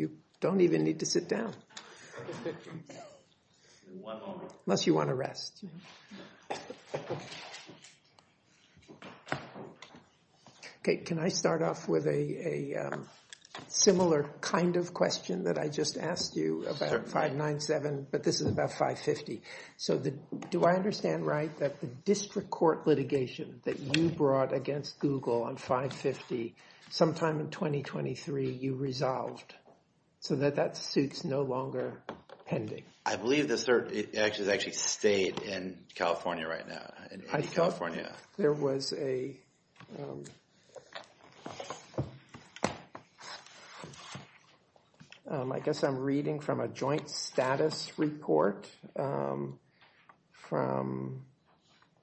You don't even need to sit down, unless you want to rest. OK, can I start off with a similar kind of question that I just asked you about 597, but this is about 550. So do I understand right that the district court litigation that you brought against Google on 550 sometime in 2023, you resolved so that that suit's no longer pending? I believe the cert actually stayed in California right now, in A&E California. There was a, I guess I'm reading from a joint status report from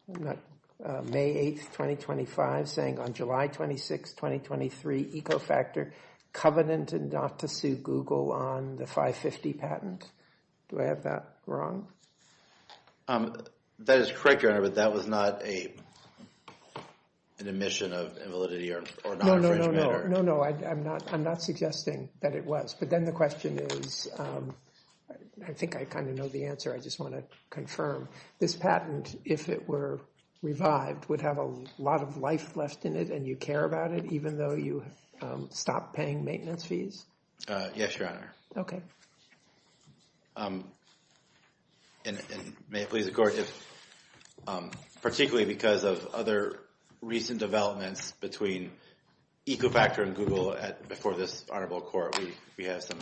May 8th, 2025, saying on July 26th, 2023, EcoFactor covenanted not to sue Google on the 550 patent. Do I have that wrong? That is correct, Your Honor, but that was not an admission of invalidity or non-infringement. No, no, I'm not suggesting that it was. But then the question is, I think I kind of know the answer, I just want to confirm. This patent, if it were revived, would have a lot of life left in it, and you care about it, even though you stopped paying maintenance fees? Yes, Your Honor. And may it please the court, particularly because of other recent developments between EcoFactor and Google before this honorable court, we have some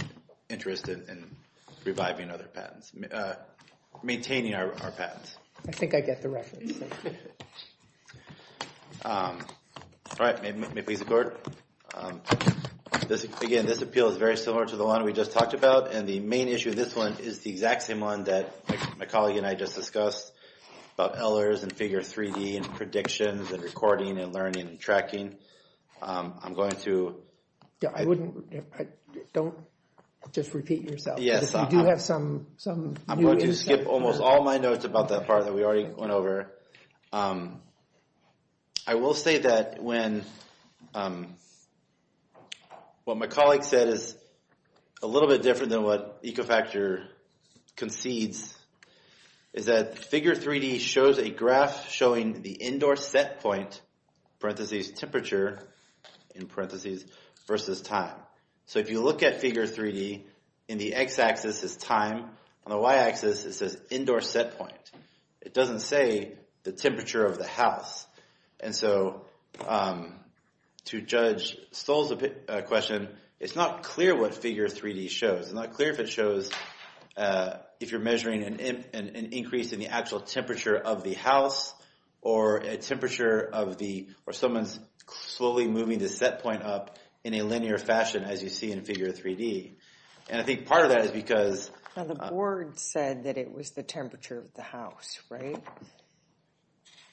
interest in reviving other patents, maintaining our patents. I think I get the reference. All right, may it please the court. Again, this appeal is very similar to the one we just talked about, and the main issue of this one is the exact same one that my colleague and I just discussed, about LRs and figure 3D and predictions and recording and learning and tracking. I'm going to... Yeah, I wouldn't, don't just repeat yourself. Yes, I'm going to skip almost all my notes about that part that we already went over. I will say that when, what my colleague said is a little bit different than what EcoFactor concedes, is that figure 3D shows a graph showing the indoor set point, parentheses temperature, in parentheses, versus time. So if you look at figure 3D, in the x-axis is time, on the y-axis it says indoor set point. It doesn't say the temperature of the house. And so to judge Stoll's question, it's not clear what figure 3D shows. It's not clear if it shows if you're measuring an increase in the actual temperature of the house, or a temperature of the, or someone's slowly moving the set point up in a linear fashion as you see in figure 3D. And I think part of that is because... Now the board said that it was the temperature of the house, right?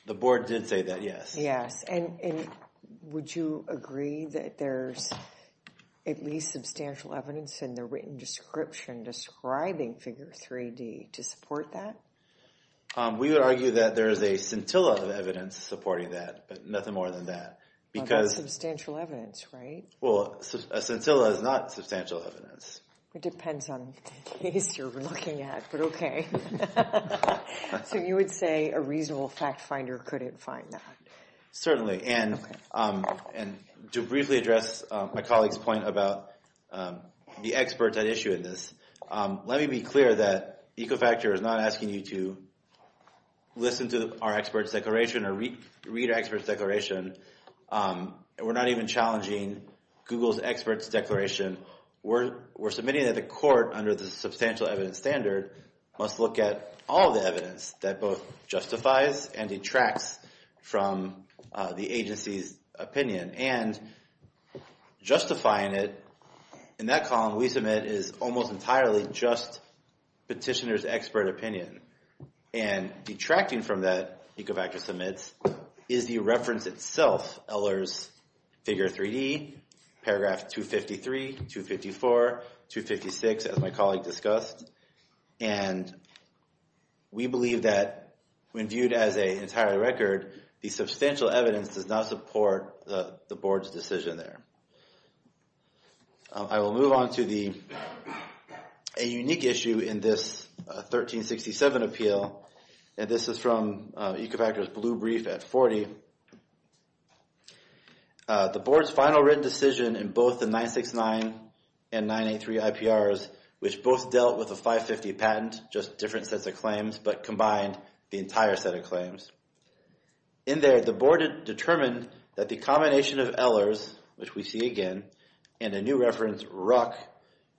The board did say that, yes. Yes, and would you agree that there's at least substantial evidence in the written description describing figure 3D to support that? We would argue that there is a scintilla of evidence supporting that, but nothing more than that. That's substantial evidence, right? Well, a scintilla is not substantial evidence. It depends on the case you're looking at, but okay. So you would say a reasonable fact finder couldn't find that? Certainly, and to briefly address my colleague's point about the experts at issue in this, let me be clear that Ecofactor is not asking you to listen to our experts' declaration or read our experts' declaration. We're not even challenging Google's experts' declaration. We're submitting that the court, under the substantial evidence standard, must look at all the evidence that both justifies and detracts from the agency's opinion. And justifying it in that column we submit is almost entirely just petitioner's expert opinion. And detracting from that, Ecofactor submits, is the reference itself, Eller's figure 3D, paragraph 253, 254, 256, as my colleague discussed. And we believe that when viewed as an entire record, the substantial evidence does not support the board's decision there. I will move on to a unique issue in this 1367 appeal, and this is from Ecofactor's blue brief at 40. The board's final written decision in both the 969 and 983 IPRs, which both dealt with a 550 patent, just different sets of claims, but combined the entire set of claims. In there, the board determined that the combination of Eller's, which we see again, and a new reference, Ruck,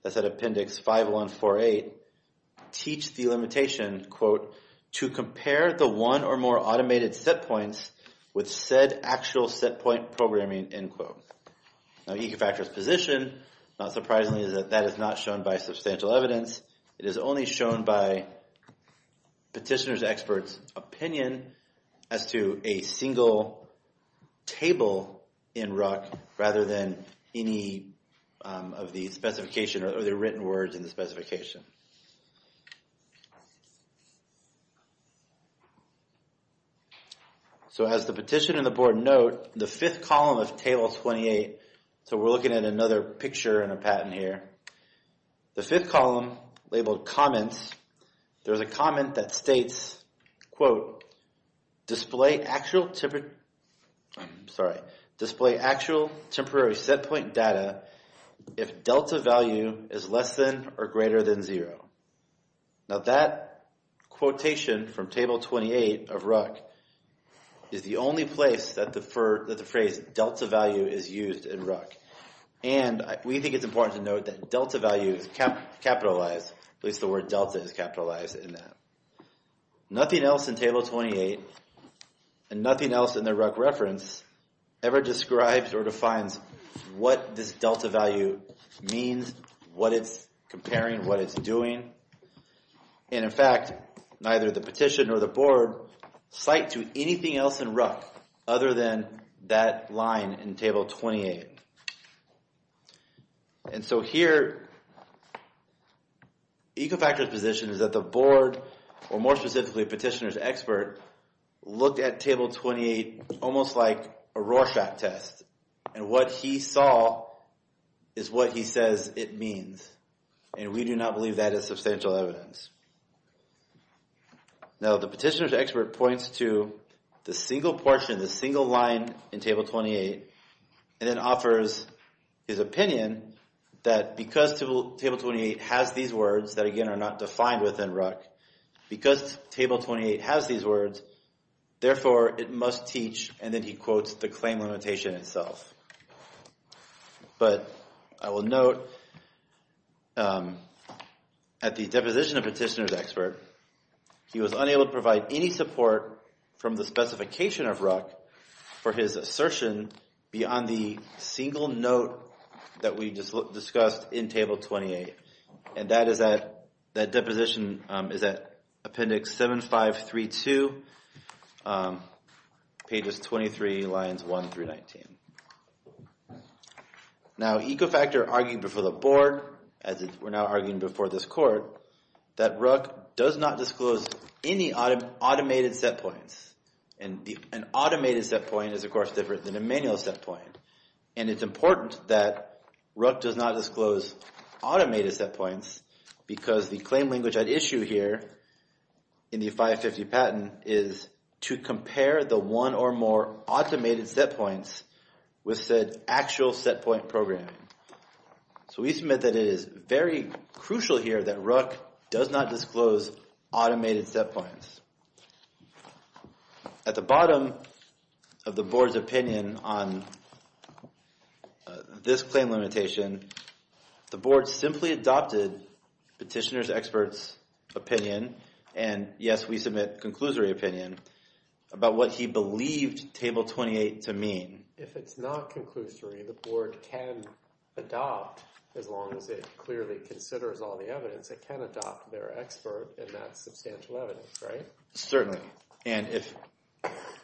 that's at appendix 5148, teach the limitation, quote, to compare the one or more automated set points with said actual set point programming, end quote. Now Ecofactor's position, not surprisingly, is that that is not shown by substantial evidence. It is only shown by petitioner's expert's opinion as to a single table in Ruck, rather than any of the specification or the written words in the specification. So as the petition and the board note, the fifth column of table 28, so we're looking at another picture in a patent here, the fifth column labeled comments, there's a comment that states, quote, display actual temporary set point data if delta value is less than or greater than zero. Now that quotation from table 28 of Ruck is the only place that the phrase delta value is used in Ruck, and we think it's important to note that delta value is capitalized, at least the word delta is capitalized in that. Nothing else in table 28, and nothing else in the Ruck reference, ever describes or defines what this delta value means, what it's comparing, what it's doing. And in fact, neither the petition nor the board cite to anything else in Ruck other than that line in table 28. And so here, Ecofactor's position is that the board, or more specifically petitioner's expert, looked at table 28 almost like a Rorschach test, and what he saw is what he says it means, and we do not believe that is substantial evidence. Now the petitioner's expert points to the single portion, the single line in table 28, and then offers his opinion that because table 28 has these words, that again are not defined within Ruck, because table 28 has these words, therefore it must teach, and then he quotes the claim limitation itself. But I will note at the deposition of petitioner's expert, he was unable to provide any support from the specification of Ruck for his assertion beyond the single note that we just discussed in table 28, and that deposition is at appendix 7532, pages 23, lines 1 through 19. Now Ecofactor argued before the board, as we're now arguing before this court, that Ruck does not disclose any automated set points, and an automated set point is of course different than a manual set point, and it's important that Ruck does not disclose automated set points, because the claim language at issue here in the 550 patent is to compare the one or more automated set points with said actual set point program. So we submit that it is very crucial here that Ruck does not disclose automated set points. At the bottom of the board's opinion on this claim limitation, the board simply adopted petitioner's expert's opinion, and yes, we submit conclusory opinion, about what he believed table 28 to mean. If it's not conclusory, the board can adopt, as long as it clearly considers all the evidence, it can adopt their expert in that substantial evidence, right? Certainly, and if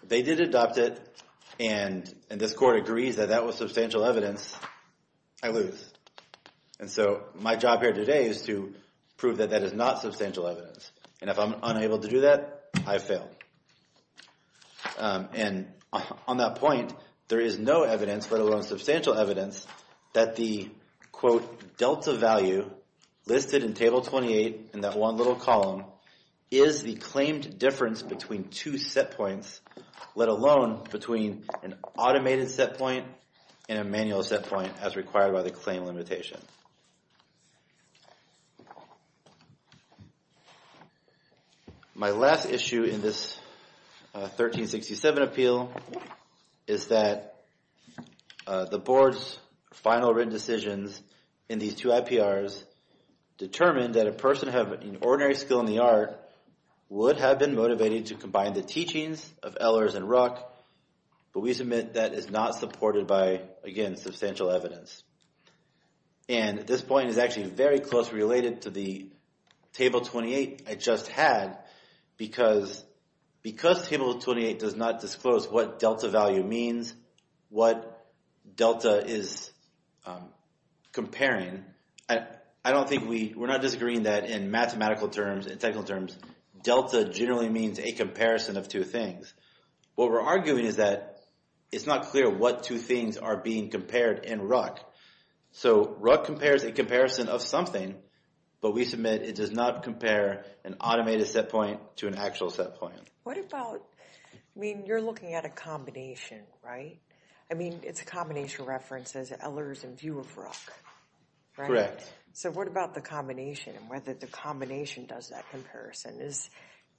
they did adopt it, and this court agrees that that was substantial evidence, I lose. And so my job here today is to prove that that is not substantial evidence, and if I'm unable to do that, I fail. And on that point, there is no evidence, let alone substantial evidence, that the, quote, delta value listed in table 28 in that one little column is the claimed difference between two set points, let alone between an automated set point and a manual set point, as required by the claim limitation. My last issue in this 1367 appeal is that the board's final written decisions in these two IPRs determined that a person having an ordinary skill in the art would have been motivated to combine the teachings of Ehlers and Ruck, but we submit that is not supported by, again, substantial evidence. And this point is actually very closely related to the table 28 I just had, because table 28 does not disclose what delta value means, what delta is comparing. I don't think we, we're not disagreeing that in mathematical terms, in technical terms, delta generally means a comparison of two things. What we're arguing is that it's not clear what two things are being compared in Ruck. So Ruck compares a comparison of something, but we submit it does not compare an automated set point to an actual set point. What about, I mean, you're looking at a combination, right? I mean, it's a combination reference as Ehlers and view of Ruck, right? So what about the combination and whether the combination does that comparison? Is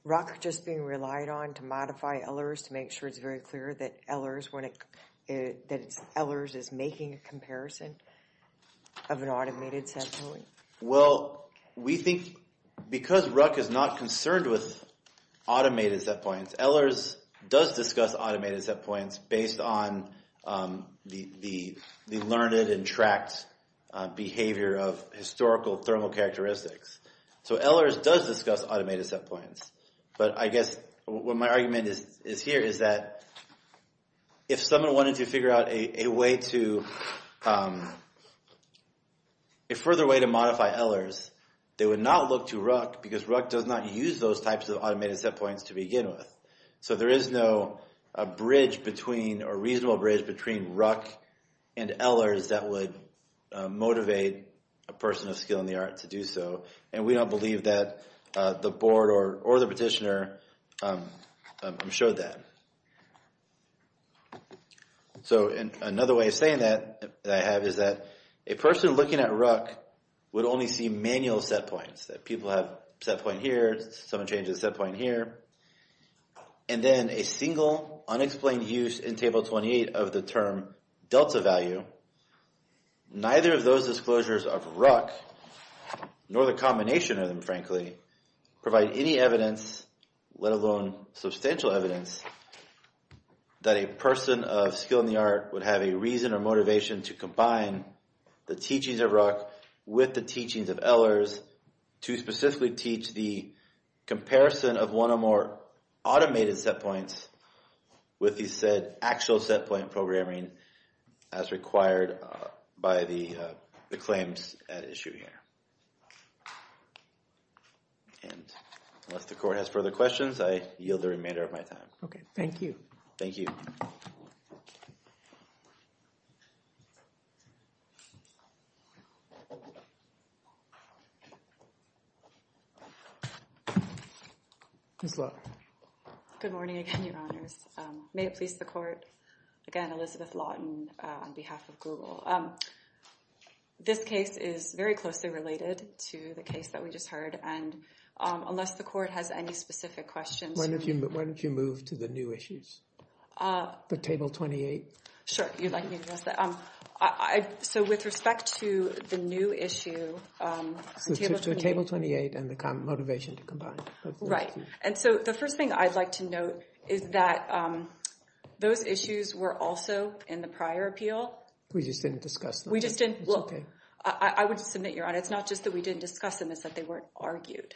Ruck just being relied on to modify Ehlers to make sure it's very clear that Ehlers is making a comparison of an automated set point? Well, we think because Ruck is not concerned with automated set points, Ehlers does discuss automated set points based on the learned and tracked behavior of historical thermal characteristics. So Ehlers does discuss automated set points, but I guess what my argument is here is that if someone wanted to figure out a way to, a further way to modify Ehlers, they would not look to Ruck, because Ruck does not use those types of automated set points to begin with. So there is no bridge between, or reasonable bridge between Ruck and Ehlers that would motivate a person of skill in the art to do so, and we don't believe that the board or the petitioner showed that. So another way of saying that, that I have is that a person looking at Ruck would only see manual set points, that people have set point here, someone changes set point here, and then a single unexplained use in table 28 of the term delta value, neither of those disclosures of Ruck, nor the combination of them frankly, provide any evidence, let alone substantial evidence, that a person of skill in the art would have a reason or motivation to combine the teachings of Ruck with the teachings of Ehlers to specifically teach the comparison of one or more automated set points with the said actual set point programming as required by the claims at issue here. And unless the court has further questions, I yield the remainder of my time. Okay, thank you. Thank you. Ms. Lawton. Good morning again, your honors. May it please the court. Again, Elizabeth Lawton on behalf of Google. This case is very closely related to the case that we just heard, and unless the court has any specific questions. Why don't you move to the new issues, the table 28? Sure, if you'd like me to address that. So with respect to the new issue. Table 28 and the motivation to combine. And so the first thing I'd like to note is that those issues were also in the prior appeal. We just didn't discuss them. We just didn't. I would submit, your honor, it's not just that we didn't discuss them, it's that they weren't argued.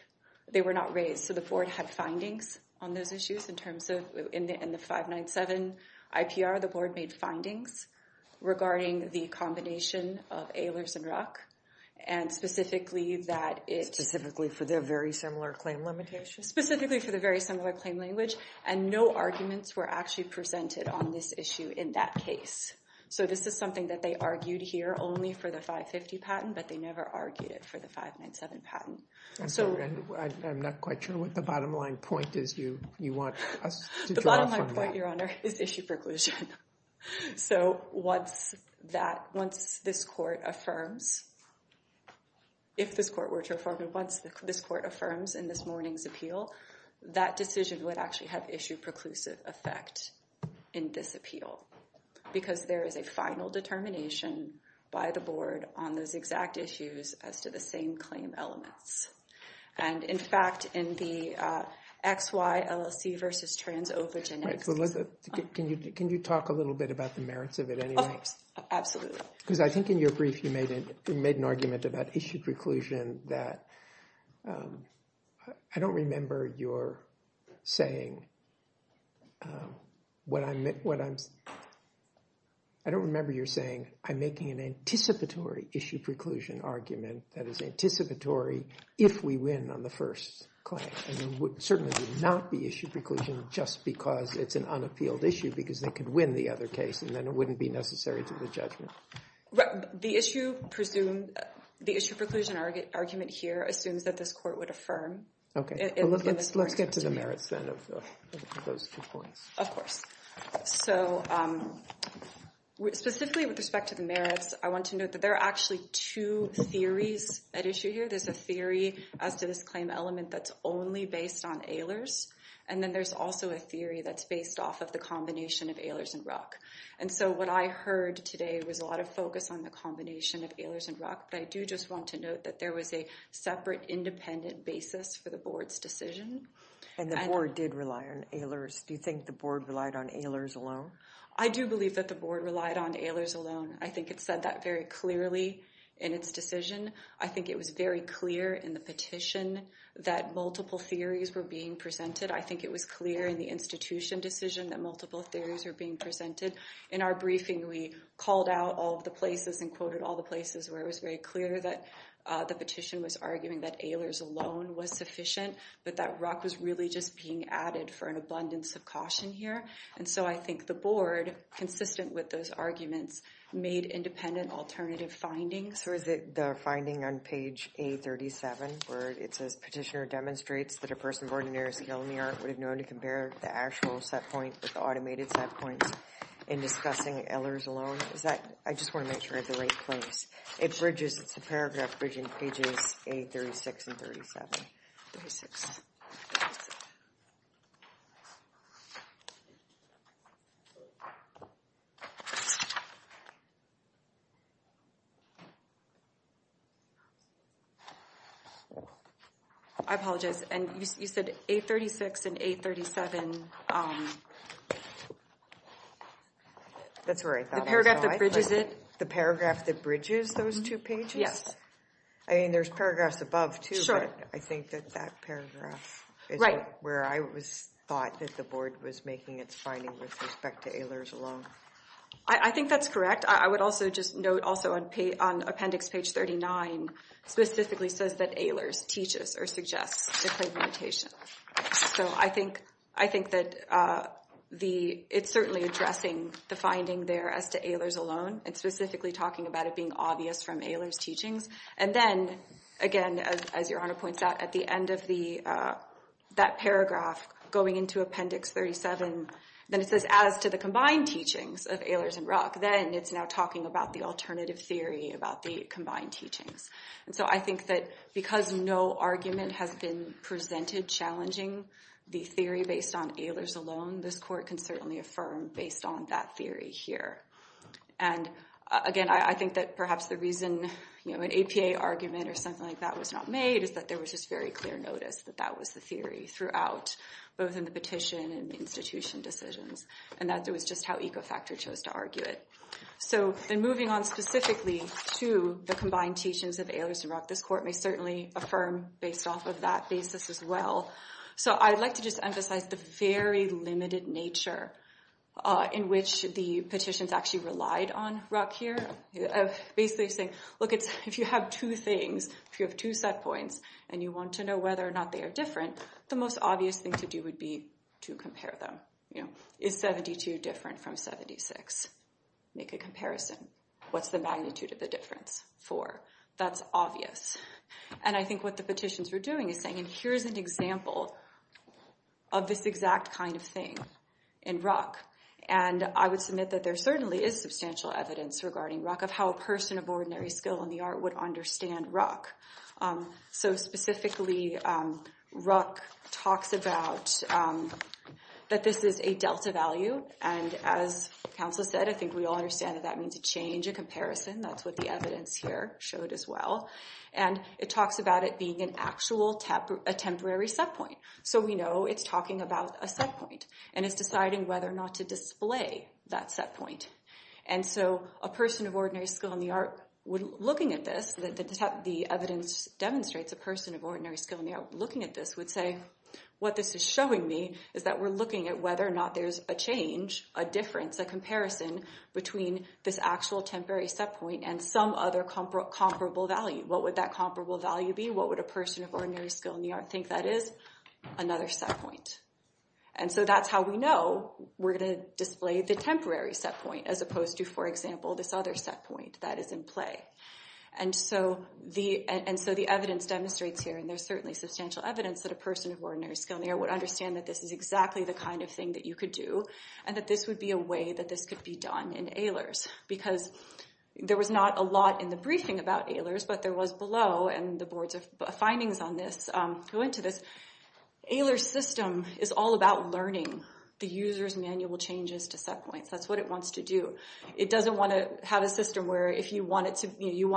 They were not raised. So the board had findings on those issues in terms of in the 597 IPR, the board made findings regarding the combination of Ehlers and Ruck, and specifically that it... Specifically for the very similar claim limitation. Specifically for the very similar claim language, and no arguments were actually presented on this issue in that case. So this is something that they argued here only for the 550 patent, but they never argued it for the 597 patent. I'm not quite sure what the bottom line point is you want us to draw from that. My point, your honor, is issue preclusion. So once this court affirms, if this court were to affirm it, once this court affirms in this morning's appeal, that decision would actually have issue preclusive effect in this appeal. Because there is a final determination by the board on those exact issues as to the same claim elements. And, in fact, in the XY LLC versus trans-OVGN. Can you talk a little bit about the merits of it anyway? Absolutely. Because I think in your brief you made an argument about issue preclusion that I don't remember your saying what I'm... I don't remember your saying I'm making an anticipatory issue preclusion argument that is anticipatory if we win on the first claim. And it certainly would not be issue preclusion just because it's an unappealed issue because they could win the other case and then it wouldn't be necessary to the judgment. The issue preclusion argument here assumes that this court would affirm. Okay. Let's get to the merits then of those two points. Of course. So specifically with respect to the merits, I want to note that there are actually two theories at issue here. There's a theory as to this claim element that's only based on AILERS. And then there's also a theory that's based off of the combination of AILERS and RUC. And so what I heard today was a lot of focus on the combination of AILERS and RUC. But I do just want to note that there was a separate independent basis for the board's decision. And the board did rely on AILERS. Do you think the board relied on AILERS alone? I do believe that the board relied on AILERS alone. I think it said that very clearly in its decision. I think it was very clear in the petition that multiple theories were being presented. I think it was clear in the institution decision that multiple theories were being presented. In our briefing, we called out all of the places and quoted all the places where it was very clear that the petition was arguing that AILERS alone was sufficient, but that RUC was really just being added for an abundance of caution here. And so I think the board, consistent with those arguments, made independent alternative findings. So is it the finding on page A37 where it says, Petitioner demonstrates that a person of ordinary skill in the art would have known to compare the actual set point with the automated set points in discussing AILERS alone? Is that, I just want to make sure I have the right place. It bridges, it's a paragraph bridging pages A36 and 37. 36. I apologize. And you said A36 and A37. That's right. The paragraph that bridges it. The paragraph that bridges those two pages? Yes. I mean, there's paragraphs above too. I think that that paragraph is where I thought that the board was making its finding with respect to AILERS alone. I think that's correct. I would also just note also on appendix page 39 specifically says that AILERS teaches or suggests different notation. So I think that it's certainly addressing the finding there as to AILERS alone. It's specifically talking about it being obvious from AILERS teachings. And then, again, as Your Honor points out, at the end of that paragraph going into appendix 37, then it says as to the combined teachings of AILERS and Ruck. Then it's now talking about the alternative theory about the combined teachings. And so I think that because no argument has been presented challenging the theory based on AILERS alone, this court can certainly affirm based on that theory here. And, again, I think that perhaps the reason an APA argument or something like that was not made is that there was just very clear notice that that was the theory throughout both in the petition and institution decisions. And that was just how Ecofactor chose to argue it. So then moving on specifically to the combined teachings of AILERS and Ruck, this court may certainly affirm based off of that basis as well. So I'd like to just emphasize the very limited nature in which the petitions actually relied on Ruck here. Basically saying, look, if you have two things, if you have two set points, and you want to know whether or not they are different, the most obvious thing to do would be to compare them. Is 72 different from 76? Make a comparison. What's the magnitude of the difference for? That's obvious. And I think what the petitions were doing is saying, and here's an example of this exact kind of thing in Ruck. And I would submit that there certainly is substantial evidence regarding Ruck of how a person of ordinary skill in the art would understand Ruck. So specifically, Ruck talks about that this is a delta value. And as counsel said, I think we all understand that that means a change, a comparison. That's what the evidence here showed as well. And it talks about it being an actual temporary set point. So we know it's talking about a set point, and it's deciding whether or not to display that set point. And so a person of ordinary skill in the art, looking at this, the evidence demonstrates a person of ordinary skill in the art looking at this would say, what this is showing me is that we're looking at whether or not there's a change, a difference, a comparison between this actual temporary set point and some other comparable value. What would that comparable value be? What would a person of ordinary skill in the art think that is? Another set point. And so that's how we know we're going to display the temporary set point as opposed to, for example, this other set point that is in play. And so the evidence demonstrates here, and there's certainly substantial evidence that a person of ordinary skill in the art would understand that this is exactly the kind of thing that you could do, and that this would be a way that this could be done in ALERS. Because there was not a lot in the briefing about ALERS, but there was below, and the board's findings on this go into this. ALERS system is all about learning the user's manual changes to set points. That's what it wants to do. It doesn't want to have a system where if you want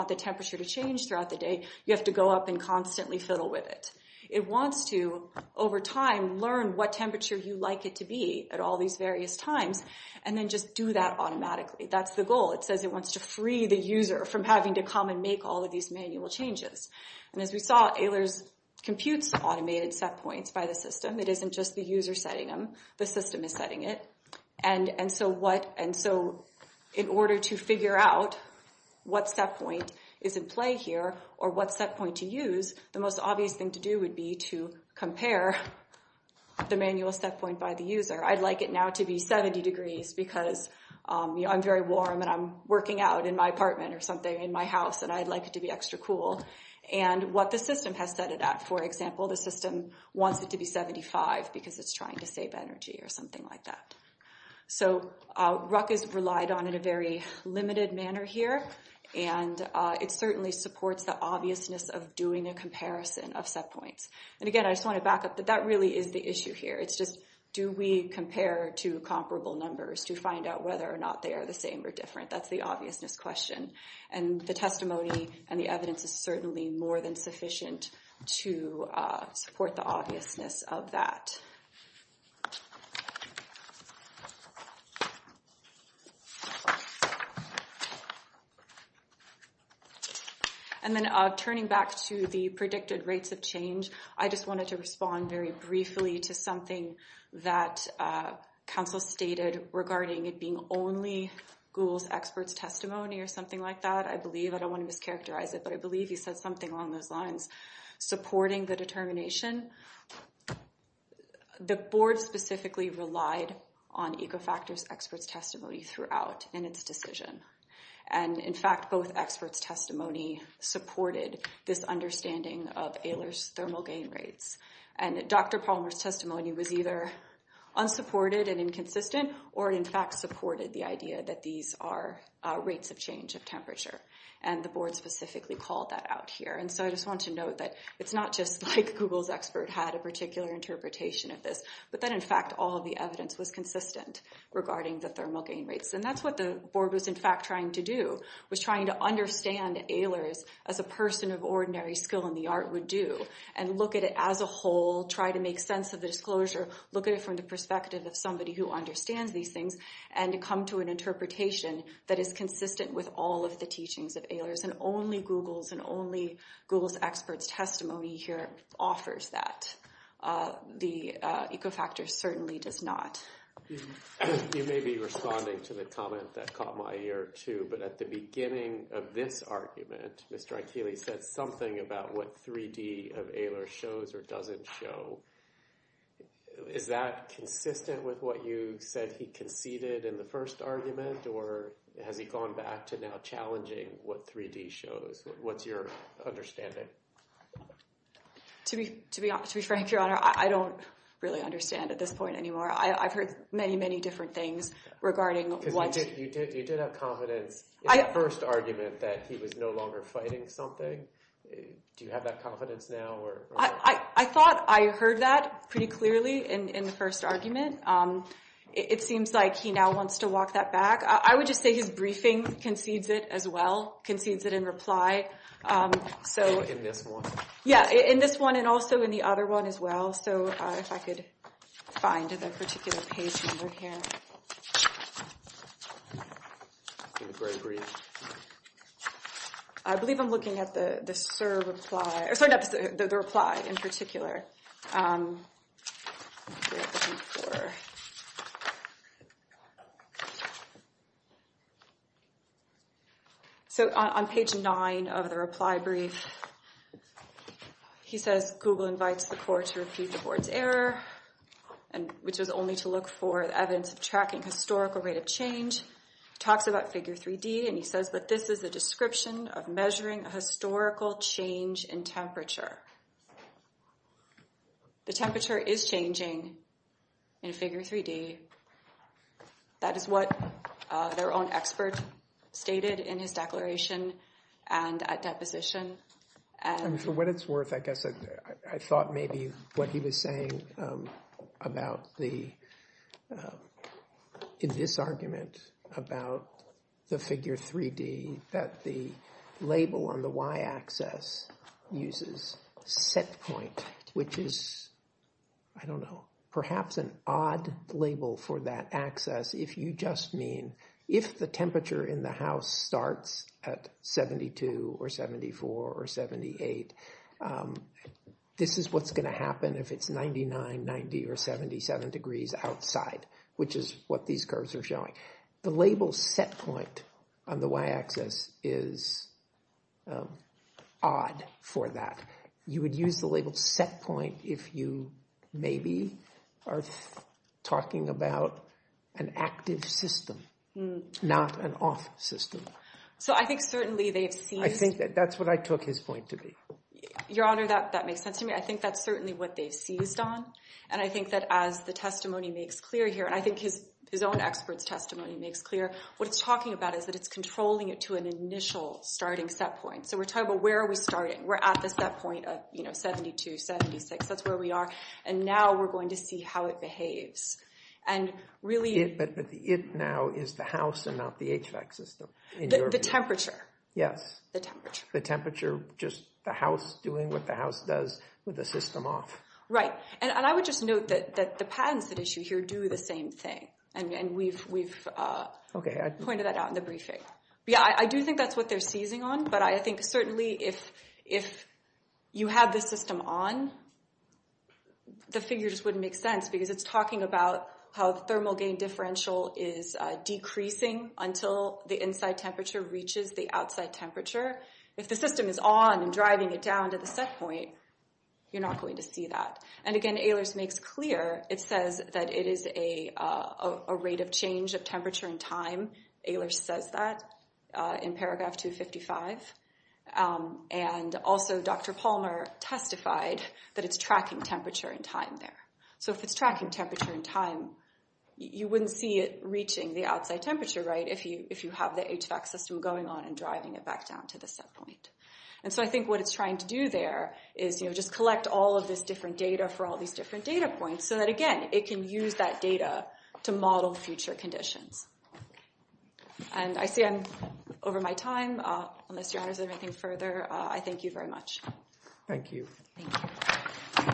the temperature to change throughout the day, you have to go up and constantly fiddle with it. It wants to, over time, learn what temperature you like it to be at all these various times, and then just do that automatically. That's the goal. It says it wants to free the user from having to come and make all of these manual changes. And as we saw, ALERS computes automated set points by the system. It isn't just the user setting them. The system is setting it. In order to figure out what set point is in play here, or what set point to use, the most obvious thing to do would be to compare the manual set point by the user. I'd like it now to be 70 degrees because I'm very warm, and I'm working out in my apartment or something, in my house, and I'd like it to be extra cool. And what the system has set it at. For example, the system wants it to be 75 because it's trying to save energy or something like that. So RUC is relied on in a very limited manner here, and it certainly supports the obviousness of doing a comparison of set points. And again, I just want to back up that that really is the issue here. It's just, do we compare two comparable numbers to find out whether or not they are the same or different? That's the obviousness question. And the testimony and the evidence is certainly more than sufficient to support the obviousness of that. And then turning back to the predicted rates of change, I just wanted to respond very briefly to something that Council stated regarding it being only Google's experts testimony or something like that. I believe, I don't want to mischaracterize it, but I believe he said something along those lines. Supporting the determination, the board specifically relied on EcoFactors experts testimony throughout in its decision. And in fact, both experts testimony supported this understanding of Ehlers thermal gain rates. And Dr. Palmer's testimony was either unsupported and inconsistent or in fact supported the idea that these are rates of change of temperature. And the board specifically called that out here. And so I just want to note that it's not just like Google's expert had a particular interpretation of this, but that in fact all of the evidence was consistent regarding the thermal gain rates. And that's what the board was in fact trying to do, was trying to understand Ehlers as a person of ordinary skill in the art would do. And look at it as a whole, try to make sense of the disclosure, look at it from the perspective of somebody who understands these things, and to come to an interpretation that is consistent with all of the teachings of Ehlers. And only Google's and only Google's experts testimony here offers that. The EcoFactors certainly does not. You may be responding to the comment that caught my ear too, but at the beginning of this argument, Mr. Aikili said something about what 3D of Ehlers shows or doesn't show. Is that consistent with what you said he conceded in the first argument, or has he gone back to now challenging what 3D shows? What's your understanding? To be frank, Your Honor, I don't really understand at this point anymore. I've heard many, many different things regarding what— Because you did have confidence in the first argument that he was no longer fighting something. Do you have that confidence now? I thought I heard that pretty clearly in the first argument. It seems like he now wants to walk that back. I would just say his briefing concedes it as well, concedes it in reply. In this one? Yeah, in this one and also in the other one as well. If I could find the particular page number here. I believe I'm looking at the reply in particular. Let's see what I'm looking for. On page 9 of the reply brief, he says, Google invites the court to repeat the board's error, which was only to look for evidence of tracking historical rate of change. He talks about Figure 3D, and he says, The temperature is changing in Figure 3D. That is what their own expert stated in his declaration and at deposition. For what it's worth, I guess I thought maybe what he was saying about the— in this argument about the Figure 3D that the label on the y-axis uses set point, which is, I don't know, perhaps an odd label for that axis. If you just mean if the temperature in the house starts at 72 or 74 or 78, this is what's going to happen if it's 99, 90, or 77 degrees outside, which is what these curves are showing. The label set point on the y-axis is odd for that. You would use the label set point if you maybe are talking about an active system, not an off system. I think that's what I took his point to be. Your Honor, that makes sense to me. I think that's certainly what they seized on. And I think that as the testimony makes clear here, and I think his own expert's testimony makes clear, what it's talking about is that it's controlling it to an initial starting set point. So we're talking about where are we starting? We're at the set point of 72, 76. That's where we are. And now we're going to see how it behaves. And really— But it now is the house and not the HVAC system. The temperature. Yes. The temperature. The temperature, just the house doing what the house does with the system off. Right. And I would just note that the patents at issue here do the same thing. And we've pointed that out in the briefing. Yeah, I do think that's what they're seizing on. But I think certainly if you had the system on, the figure just wouldn't make sense because it's talking about how the thermal gain differential is decreasing until the inside temperature reaches the outside temperature. If the system is on and driving it down to the set point, you're not going to see that. And, again, Ehlers makes clear. It says that it is a rate of change of temperature and time. Ehlers says that in paragraph 255. And also Dr. Palmer testified that it's tracking temperature and time there. So if it's tracking temperature and time, you wouldn't see it reaching the outside temperature, right, if you have the HVAC system going on and driving it back down to the set point. And so I think what it's trying to do there is just collect all of this different data for all these different data points so that, again, it can use that data to model future conditions. And I see I'm over my time. Unless your honors have anything further, I thank you very much. Thank you. Thank you. Thank you.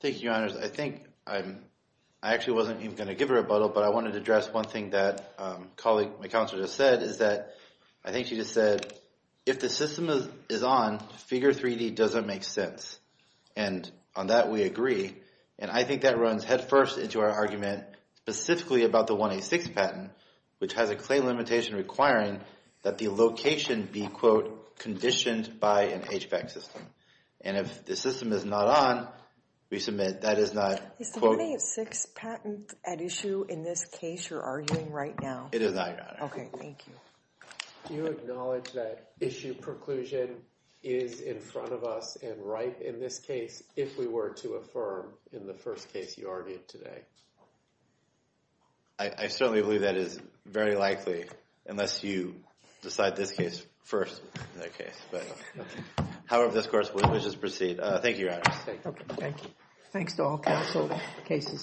Thank you, your honors. I think I actually wasn't even going to give a rebuttal, but I wanted to address one thing that my counselor just said, is that I think she just said, if the system is on, figure 3D doesn't make sense. And on that we agree. And I think that runs headfirst into our argument specifically about the 186 patent, which has a claim limitation requiring that the location be, quote, conditioned by an HVAC system. And if the system is not on, we submit that is not, quote. Is the 186 patent at issue in this case you're arguing right now? It is not, your honors. Okay, thank you. Do you acknowledge that issue preclusion is in front of us and right in this case, if we were to affirm in the first case you argued today? I certainly believe that is very likely, unless you decide this case first in that case. However, this course, we'll just proceed. Thank you, your honors. Okay, thank you. Thanks to all counsel. The case is submitted.